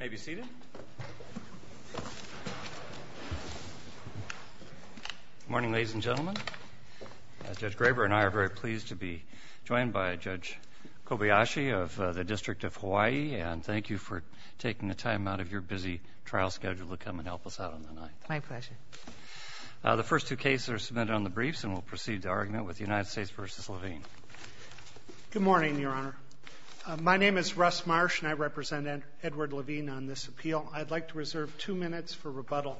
May be seated. Good morning, ladies and gentlemen. Judge Graber and I are very pleased to be joined by Judge Kobayashi of the District of Hawaii, and thank you for taking the time out of your busy trial schedule to come and help us out on the night. My pleasure. The first two cases are submitted on the briefs, and we'll proceed to argument with the United States v. Levine. Good morning, Your Honor. My name is Russ Marsh, and I represent Edward Levine on this appeal. I'd like to reserve two minutes for rebuttal.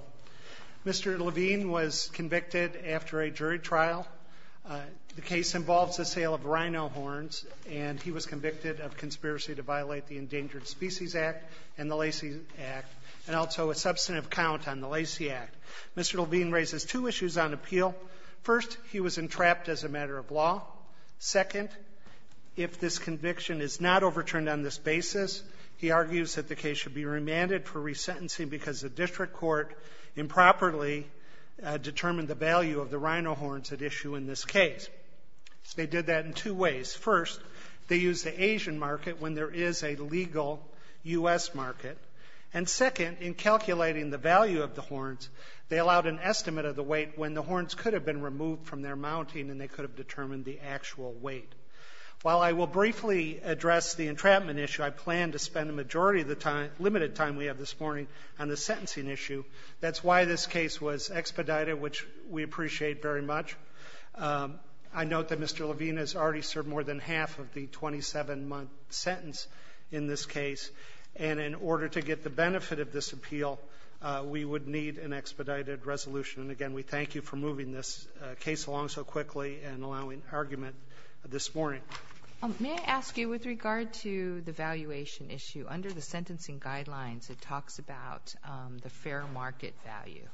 Mr. Levine was convicted after a jury trial. The case involves the sale of rhino horns, and he was convicted of conspiracy to violate the Endangered Species Act and the Lacey Act and also a substantive count on the Lacey Act. Mr. Levine raises two issues on appeal. First, he was entrapped as a matter of law. Second, if this conviction is not overturned on this basis, he argues that the case should be remanded for resentencing because the district court improperly determined the value of the rhino horns at issue in this case. They did that in two ways. First, they used the Asian market when there is a legal U.S. market. And second, in calculating the value of the horns, they allowed an estimate of the weight when the horns could have been removed from their mounting and they could have determined the actual weight. While I will briefly address the entrapment issue, I plan to spend a majority of the time, limited time we have this morning on the sentencing issue. That's why this case was expedited, which we appreciate very much. I note that Mr. Levine has already served more than half of the 27-month sentence in this case, and in order to get the benefit of this appeal, we would need an expedited resolution. And again, we thank you for moving this case along so quickly and allowing argument this morning. May I ask you, with regard to the valuation issue, under the sentencing guidelines, it talks about the fair market value,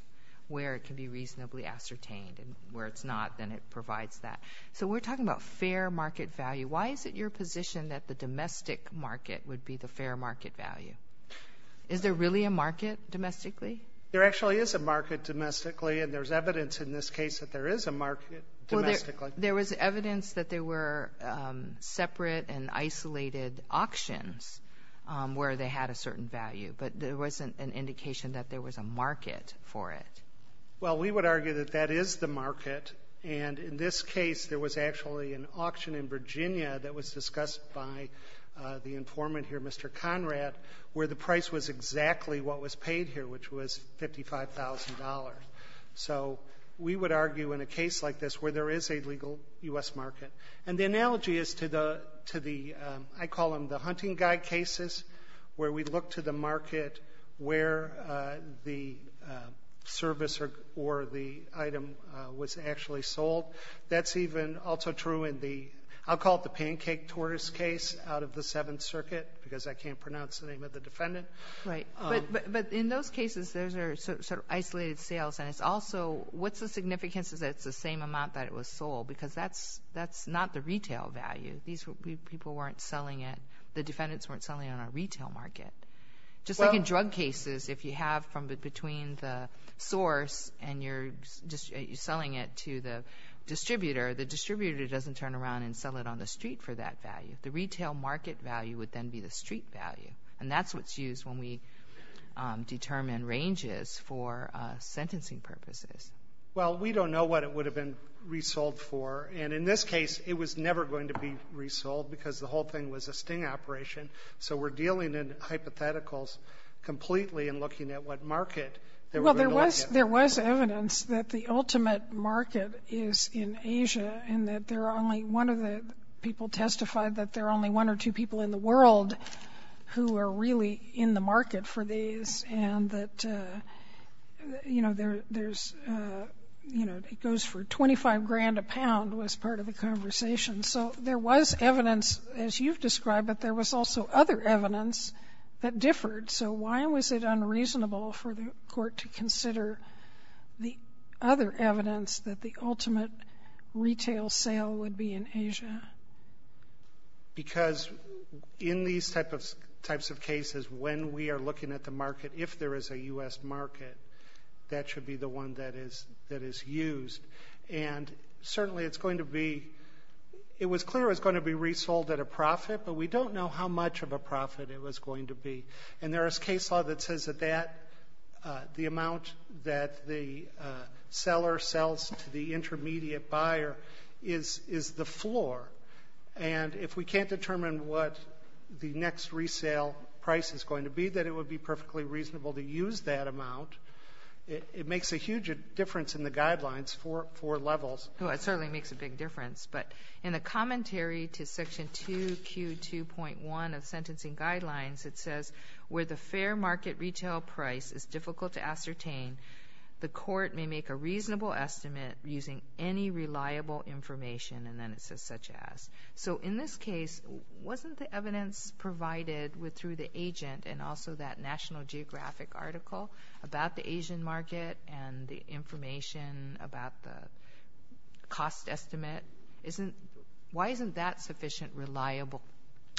where it can be reasonably ascertained, and where it's not, then it provides that. So we're talking about fair market value. Why is it your position that the domestic market would be the fair market value? Is there really a market domestically? There actually is a market domestically, and there's evidence in this case that there is a market domestically. Well, there was evidence that there were separate and isolated auctions where they had a certain value, but there wasn't an indication that there was a market for it. Well, we would argue that that is the market, and in this case, there was actually an auction in Virginia that was discussed by the informant here, Mr. Conrad, where the price was exactly what was paid here, which was $55,000. So we would argue in a case like this where there is a legal U.S. market. And the analogy is to the — to the — I call them the hunting guy cases, where we look to the market where the service or the item was actually sold. That's even also true in the — I'll call it the pancake tortoise case out of the defendant. Right. But in those cases, those are sort of isolated sales, and it's also — what's the significance is that it's the same amount that it was sold, because that's not the retail value. These people weren't selling it — the defendants weren't selling it on a retail market. Just like in drug cases, if you have from between the source and you're just selling it to the distributor, the distributor doesn't turn around and sell it on the street for that value. The retail market value would then be the street value. And that's what's used when we determine ranges for sentencing purposes. Well, we don't know what it would have been resold for. And in this case, it was never going to be resold, because the whole thing was a sting operation. So we're dealing in hypotheticals completely and looking at what market they were going to look at. Well, there was — there was evidence that the ultimate market is in Asia, and that there are only — one of the people testified that there are only one or two people in the world who are really in the market for these, and that, you know, there's — you know, it goes for 25 grand a pound was part of the conversation. So there was evidence, as you've described, but there was also other evidence that differed. So why was it unreasonable for the court to consider the other evidence that the sale would be in Asia? Because in these types of cases, when we are looking at the market, if there is a U.S. market, that should be the one that is used. And certainly it's going to be — it was clear it was going to be resold at a profit, but we don't know how much of a profit it was going to be. And there is case law that says that that — the amount that the seller sells to the floor. And if we can't determine what the next resale price is going to be, then it would be perfectly reasonable to use that amount. It makes a huge difference in the guidelines for levels. Well, it certainly makes a big difference. But in the commentary to Section 2Q2.1 of Sentencing Guidelines, it says, where the fair market retail price is difficult to ascertain, the court may make a reasonable estimate using any reliable information. And then it says, such as. So in this case, wasn't the evidence provided through the agent and also that National Geographic article about the Asian market and the information about the cost estimate, isn't — why isn't that sufficient reliable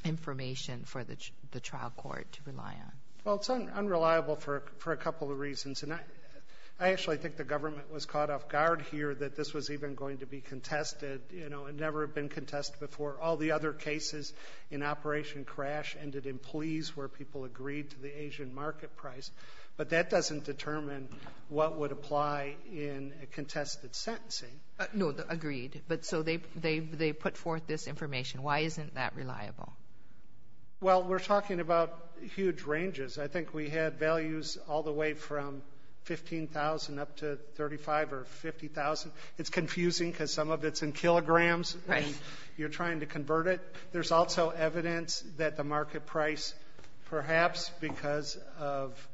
information for the trial court to rely on? Well, it's unreliable for a couple of reasons. And I actually think the government was caught off guard here that this was even going to be contested. You know, it had never been contested before. All the other cases in Operation Crash ended in pleas where people agreed to the Asian market price. But that doesn't determine what would apply in a contested sentencing. No, agreed. But so they put forth this information. Why isn't that reliable? Well, we're talking about huge ranges. I think we had values all the way from $15,000 up to $35,000 or $50,000. It's confusing because some of it's in kilograms. Right. You're trying to convert it. There's also evidence that the market price, perhaps because of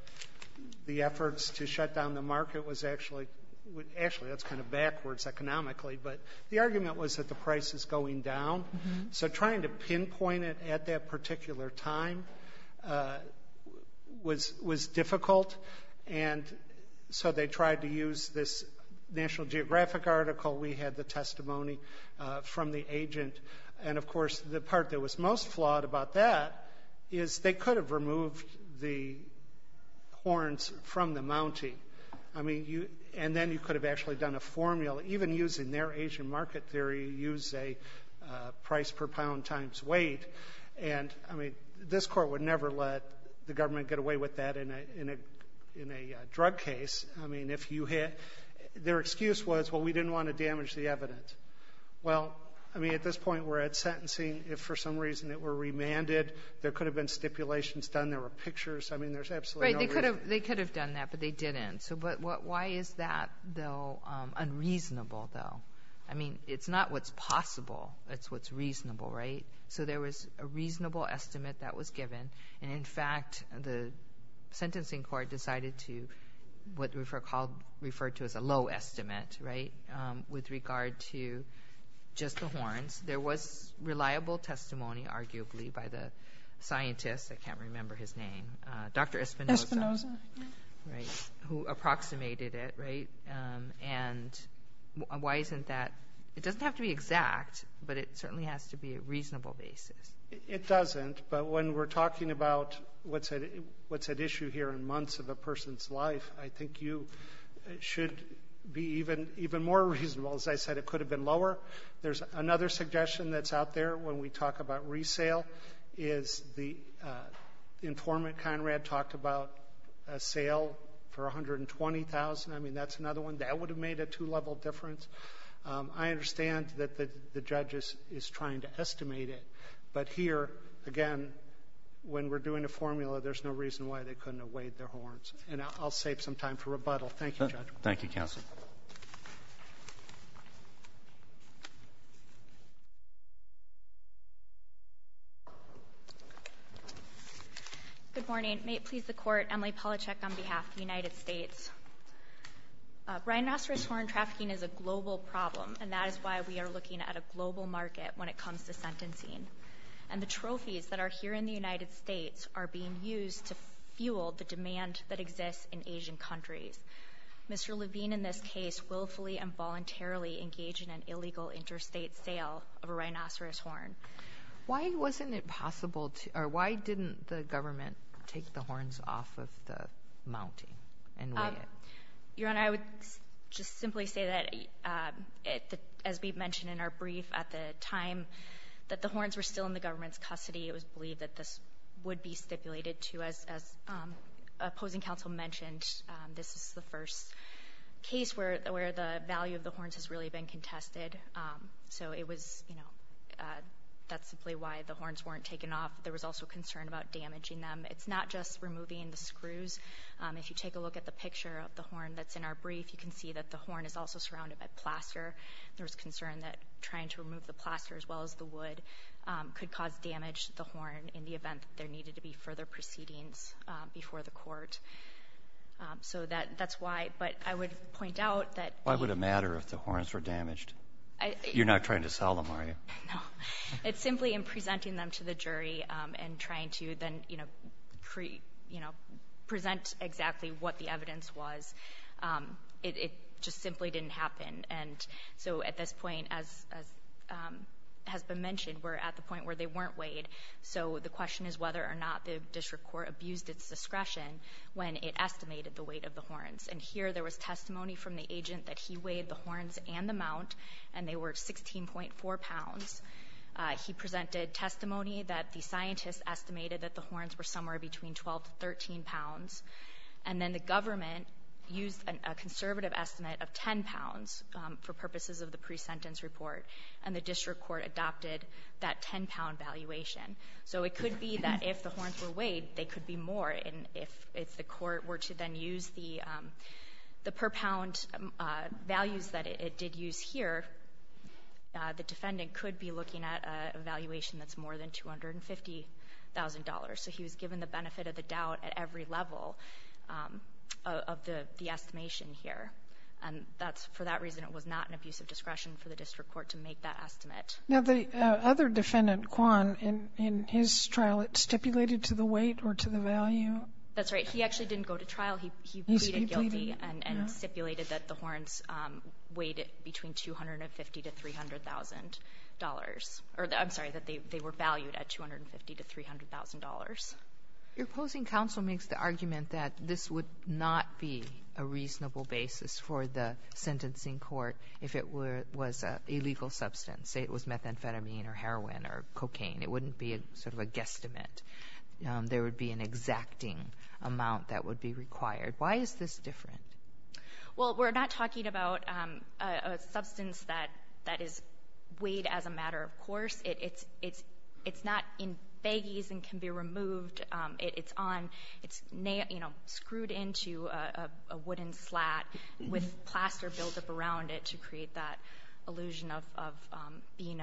the efforts to shut down the market, was actually — actually, that's kind of backwards economically. But the argument was that the price is going down. So trying to pinpoint it at that particular time was difficult. And so they tried to use this National Geographic article. We had the testimony from the agent. And, of course, the part that was most flawed about that is they could have removed the horns from the mounting. I mean, and then you could have actually done a formula. Even using their Asian market theory, use a price per pound times weight. And, I mean, this Court would never let the government get away with that in a drug case. I mean, if you had — their excuse was, well, we didn't want to damage the evidence. Well, I mean, at this point, we're at sentencing. If for some reason it were remanded, there could have been stipulations done. There were pictures. I mean, there's absolutely no reason. Right. They could have done that, but they didn't. So why is that, though, unreasonable, though? I mean, it's not what's possible. It's what's reasonable, right? So there was a reasonable estimate that was given. And, in fact, the sentencing court decided to what we've referred to as a low estimate, right, with regard to just the horns. There was reliable testimony, arguably, by the scientist. I can't remember his name. Dr. Espinoza. Right. Who approximated it, right? And why isn't that — it doesn't have to be exact, but it certainly has to be a reasonable basis. It doesn't. But when we're talking about what's at issue here in months of a person's life, I think you should be even more reasonable. As I said, it could have been lower. There's another suggestion that's out there when we talk about resale is the sale for $120,000. I mean, that's another one. That would have made a two-level difference. I understand that the judge is trying to estimate it. But here, again, when we're doing a formula, there's no reason why they couldn't have weighed their horns. And I'll save some time for rebuttal. Thank you, Judge. Thank you, counsel. Good morning. May it please the Court, Emily Palachuk on behalf of the United States. Rhinoceros horn trafficking is a global problem, and that is why we are looking at a global market when it comes to sentencing. And the trophies that are here in the United States are being used to fuel the demand that exists in Asian countries. Mr. Levine, in this case, willfully and voluntarily engaged in an illegal interstate sale of a rhinoceros horn. Why didn't the government take the horns off of the mounting and weigh it? Your Honor, I would just simply say that, as we've mentioned in our brief, at the time that the horns were still in the government's custody, it was believed that this would be stipulated to us. As opposing counsel mentioned, this is the first case where the value of the horns has really been contested. So it was, you know, that's simply why the horns weren't taken off. There was also concern about damaging them. It's not just removing the screws. If you take a look at the picture of the horn that's in our brief, you can see that the horn is also surrounded by plaster. There was concern that trying to remove the plaster as well as the wood could cause damage to the horn in the event that there needed to be further proceedings before the court. So that's why. But I would point out that the ---- Why would it matter if the horns were damaged? You're not trying to sell them, are you? No. It's simply in presenting them to the jury and trying to then, you know, present exactly what the evidence was. It just simply didn't happen. And so at this point, as has been mentioned, we're at the point where they weren't weighed. So the question is whether or not the district court abused its discretion when it estimated the weight of the horns. And here there was testimony from the agent that he weighed the horns and the mount, and they were 16.4 pounds. He presented testimony that the scientists estimated that the horns were somewhere between 12 to 13 pounds. And then the government used a conservative estimate of 10 pounds for purposes of the pre-sentence report, and the district court adopted that 10-pound valuation. So it could be that if the horns were weighed, they could be more. And if the court were to then use the per-pound values that it did use here, the defendant could be looking at a valuation that's more than $250,000. So he was given the benefit of the doubt at every level of the estimation here. And that's for that reason it was not an abusive discretion for the district court to make that estimate. Now, the other defendant, Kwan, in his trial, it stipulated to the weight or to the value? That's right. He actually didn't go to trial. He pleaded guilty and stipulated that the horns weighed between $250,000 to $300,000 or, I'm sorry, that they were valued at $250,000 to $300,000. Your opposing counsel makes the argument that this would not be a reasonable basis for the sentencing court if it was an illegal substance, say it was methamphetamine or heroin or cocaine. It wouldn't be sort of a guesstimate. There would be an exacting amount that would be required. Why is this different? Well, we're not talking about a substance that is weighed as a matter of course. It's not in baggies and can be removed. It's screwed into a wooden slat with plaster built up around it to create that illusion of being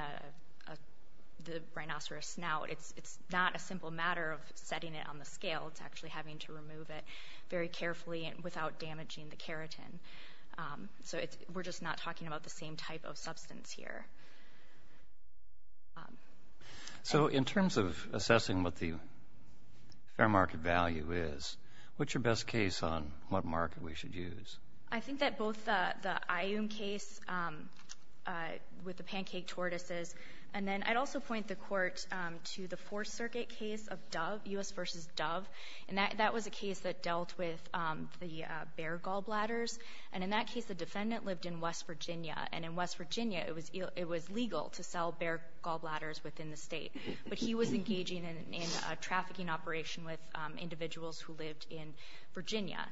the rhinoceros snout. It's not a simple matter of setting it on the scale. It's actually having to remove it very carefully and without damaging the keratin. So we're just not talking about the same type of substance here. So in terms of assessing what the fair market value is, what's your best case on what market we should use? I think that both the IUM case with the pancake tortoises, and then I'd also point the Court to the Fourth Circuit case of Dove, U.S. v. Dove. And that was a case that dealt with the bear gallbladders. And in that case, the defendant lived in West Virginia. And in West Virginia, it was legal to sell bear gallbladders within the State. But he was engaging in a trafficking operation with individuals who lived in Virginia.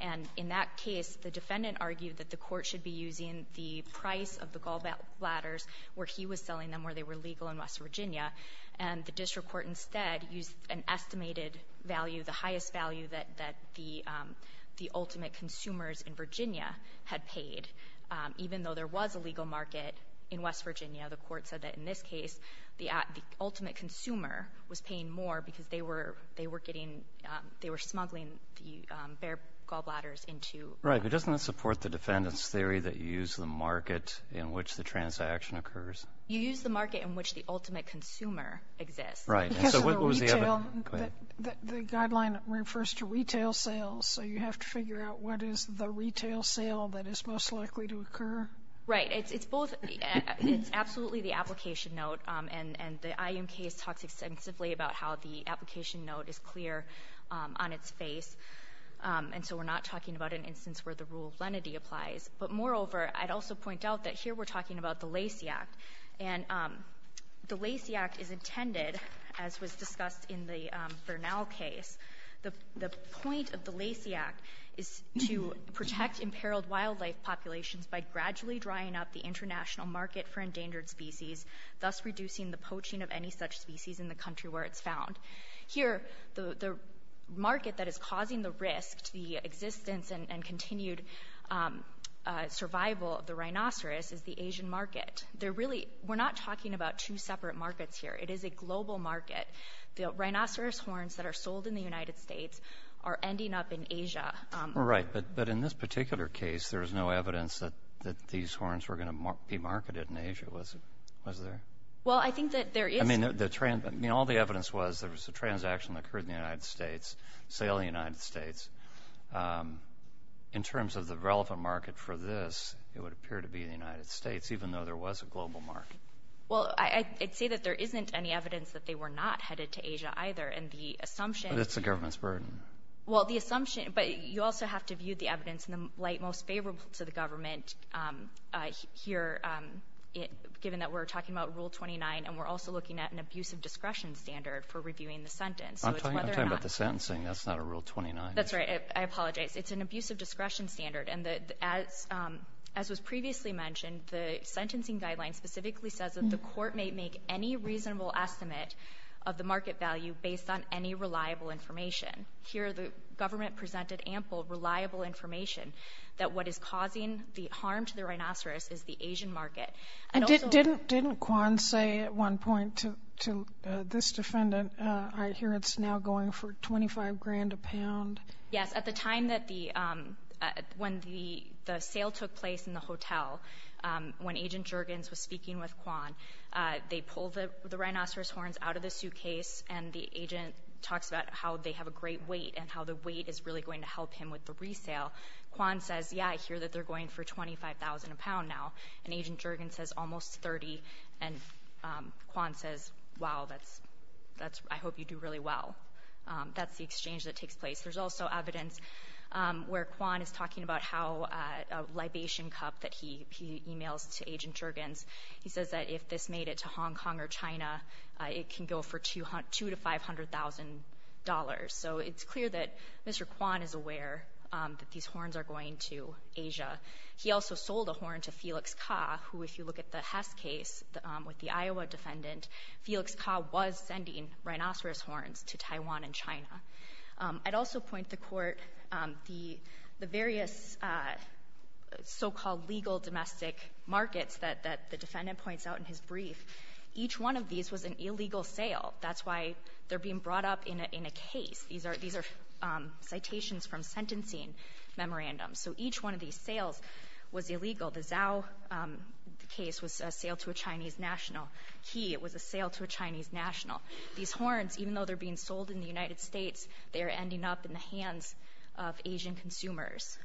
And in that case, the defendant argued that the Court should be using the price of the gallbladders where he was selling them, where they were legal in West Virginia. And the district court instead used an estimated value, the highest value that the ultimate consumers in Virginia had paid. Even though there was a legal market in West Virginia, the Court said that in this case, the ultimate consumer was paying more because they were getting, they were smuggling the bear gallbladders into the market. Right. But doesn't that support the defendant's theory that you use the market in which the transaction occurs? You use the market in which the ultimate consumer exists. Right. And so what was the other question? The guideline refers to retail sales. So you have to figure out what is the retail sale that is most likely to occur. Right. It's both. It's absolutely the application note. And the IUMK talks extensively about how the application note is clear on its face. And so we're not talking about an instance where the rule of lenity applies. But moreover, I'd also point out that here we're talking about the Lacey Act. And the Lacey Act is intended, as was discussed in the Bernal case, the point of the Lacey Act is to protect imperiled wildlife populations by gradually drying up the international market for endangered species, thus reducing the poaching of any such species in the country where it's found. Here, the market that is causing the risk to the existence and continued survival of the rhinoceros is the Asian market. They're really, we're not talking about two separate markets here. It is a global market. The rhinoceros horns that are sold in the United States are ending up in Asia. Right. But in this particular case, there was no evidence that these horns were going to be marketed in Asia, was there? Well, I think that there is. I mean, all the evidence was there was a transaction that occurred in the United States, sale in the United States. In terms of the relevant market for this, it would appear to be the United States, even though there was a global market. Well, I'd say that there isn't any evidence that they were not headed to Asia either. And the assumption But it's the government's burden. Well, the assumption, but you also have to view the evidence in the light most favorable to the government here, given that we're talking about Rule 29, and we're also looking at an abusive discretion standard for reviewing the sentence. I'm talking about the sentencing. That's not a Rule 29. That's right. I apologize. It's an abusive discretion standard. And as was previously mentioned, the sentencing guideline specifically says that the court may make any reasonable estimate of the market value based on any reliable information. Here, the government presented ample reliable information that what is causing the harm to the rhinoceros is the Asian market. And also the Didn't Kwan say at one point to this defendant, I hear it's now going for 25 grand a pound? Yes. At the time that the when the sale took place in the hotel, when Agent Juergens was speaking with Kwan, they pulled the rhinoceros horns out of the suitcase. And the agent talks about how they have a great weight and how the weight is really going to help him with the resale. Kwan says, yeah, I hear that they're going for 25,000 a pound now. And Agent Juergens says almost 30. And Kwan says, wow, that's that's I hope you do really well. That's the exchange that takes place. There's also evidence where Kwan is talking about how a libation cup that he emails to Agent Juergens. He says that if this made it to Hong Kong or China, it can go for two to five hundred thousand dollars. So it's clear that Mr. Kwan is aware that these horns are going to Asia. He also sold a horn to Felix Ka, who if you look at the Hess case with the Iowa defendant, Felix Ka was sending rhinoceros horns to Taiwan and China. I'd also point to Court the various so-called legal domestic markets that the defendant points out in his brief. Each one of these was an illegal sale. That's why they're being brought up in a case. These are citations from sentencing memorandums. So each one of these sales was illegal. The Zhao case was a sale to a Chinese national. Qi, it was a sale to a Chinese national. These horns, even though they're being sold in the United States, they are ending up in the hands of Asian consumers.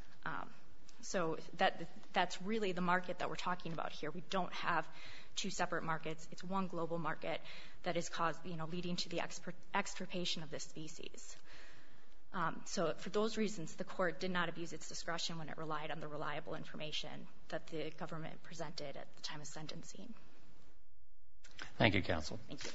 So that's really the market that we're talking about here. We don't have two separate markets. It's one global market that is caused, you know, leading to the extirpation of this species. So for those reasons, the Court did not abuse its discretion when it relied on the reliable information that the government presented at the time of sentencing. Thank you, Counsel. Thank you.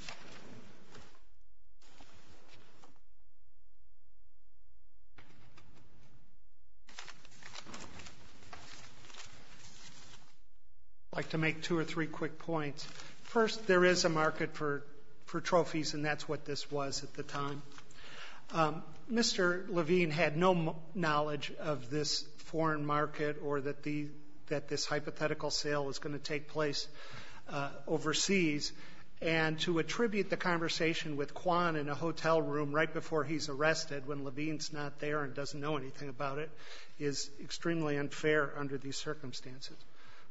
I'd like to make two or three quick points. First, there is a market for trophies, and that's what this was at the time. Mr. Levine had no knowledge of this foreign market or that this hypothetical sale was going to take place overseas. And to attribute the conversation with Quan in a hotel room right before he's arrested when Levine's not there and doesn't know anything about it is extremely unfair under these circumstances.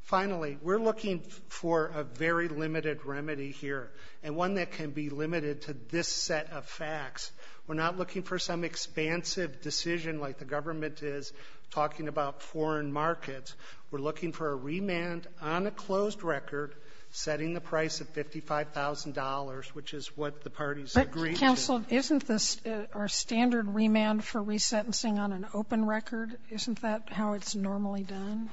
Finally, we're looking for a very limited remedy here and one that can be limited to this set of facts. We're not looking for some expansive decision like the government is talking about foreign markets. We're looking for a remand on a closed record setting the price of $55,000, which is what the parties agreed to. But, Counsel, isn't this our standard remand for resentencing on an open record? Isn't that how it's normally done?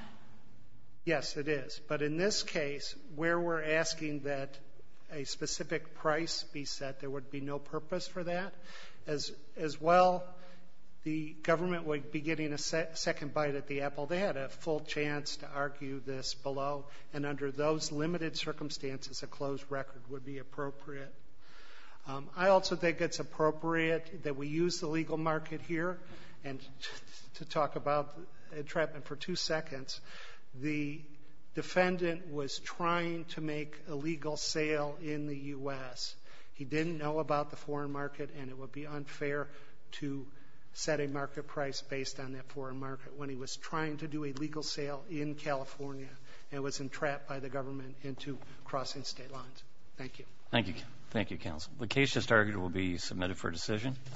Yes, it is. But in this case, where we're asking that a specific price be set, there would be no purpose for that. As well, the government would be getting a second bite at the apple. They had a full chance to argue this below. And under those limited circumstances, a closed record would be appropriate. I also think it's appropriate that we use the legal market here to talk about entrapment for two seconds. The defendant was trying to make a legal sale in the U.S. He didn't know about the foreign market and it would be unfair to set a market price based on that foreign market when he was trying to do a legal sale in California and was entrapped by the government into crossing state lines. Thank you. Thank you, Counsel. The case just argued will be submitted for decision.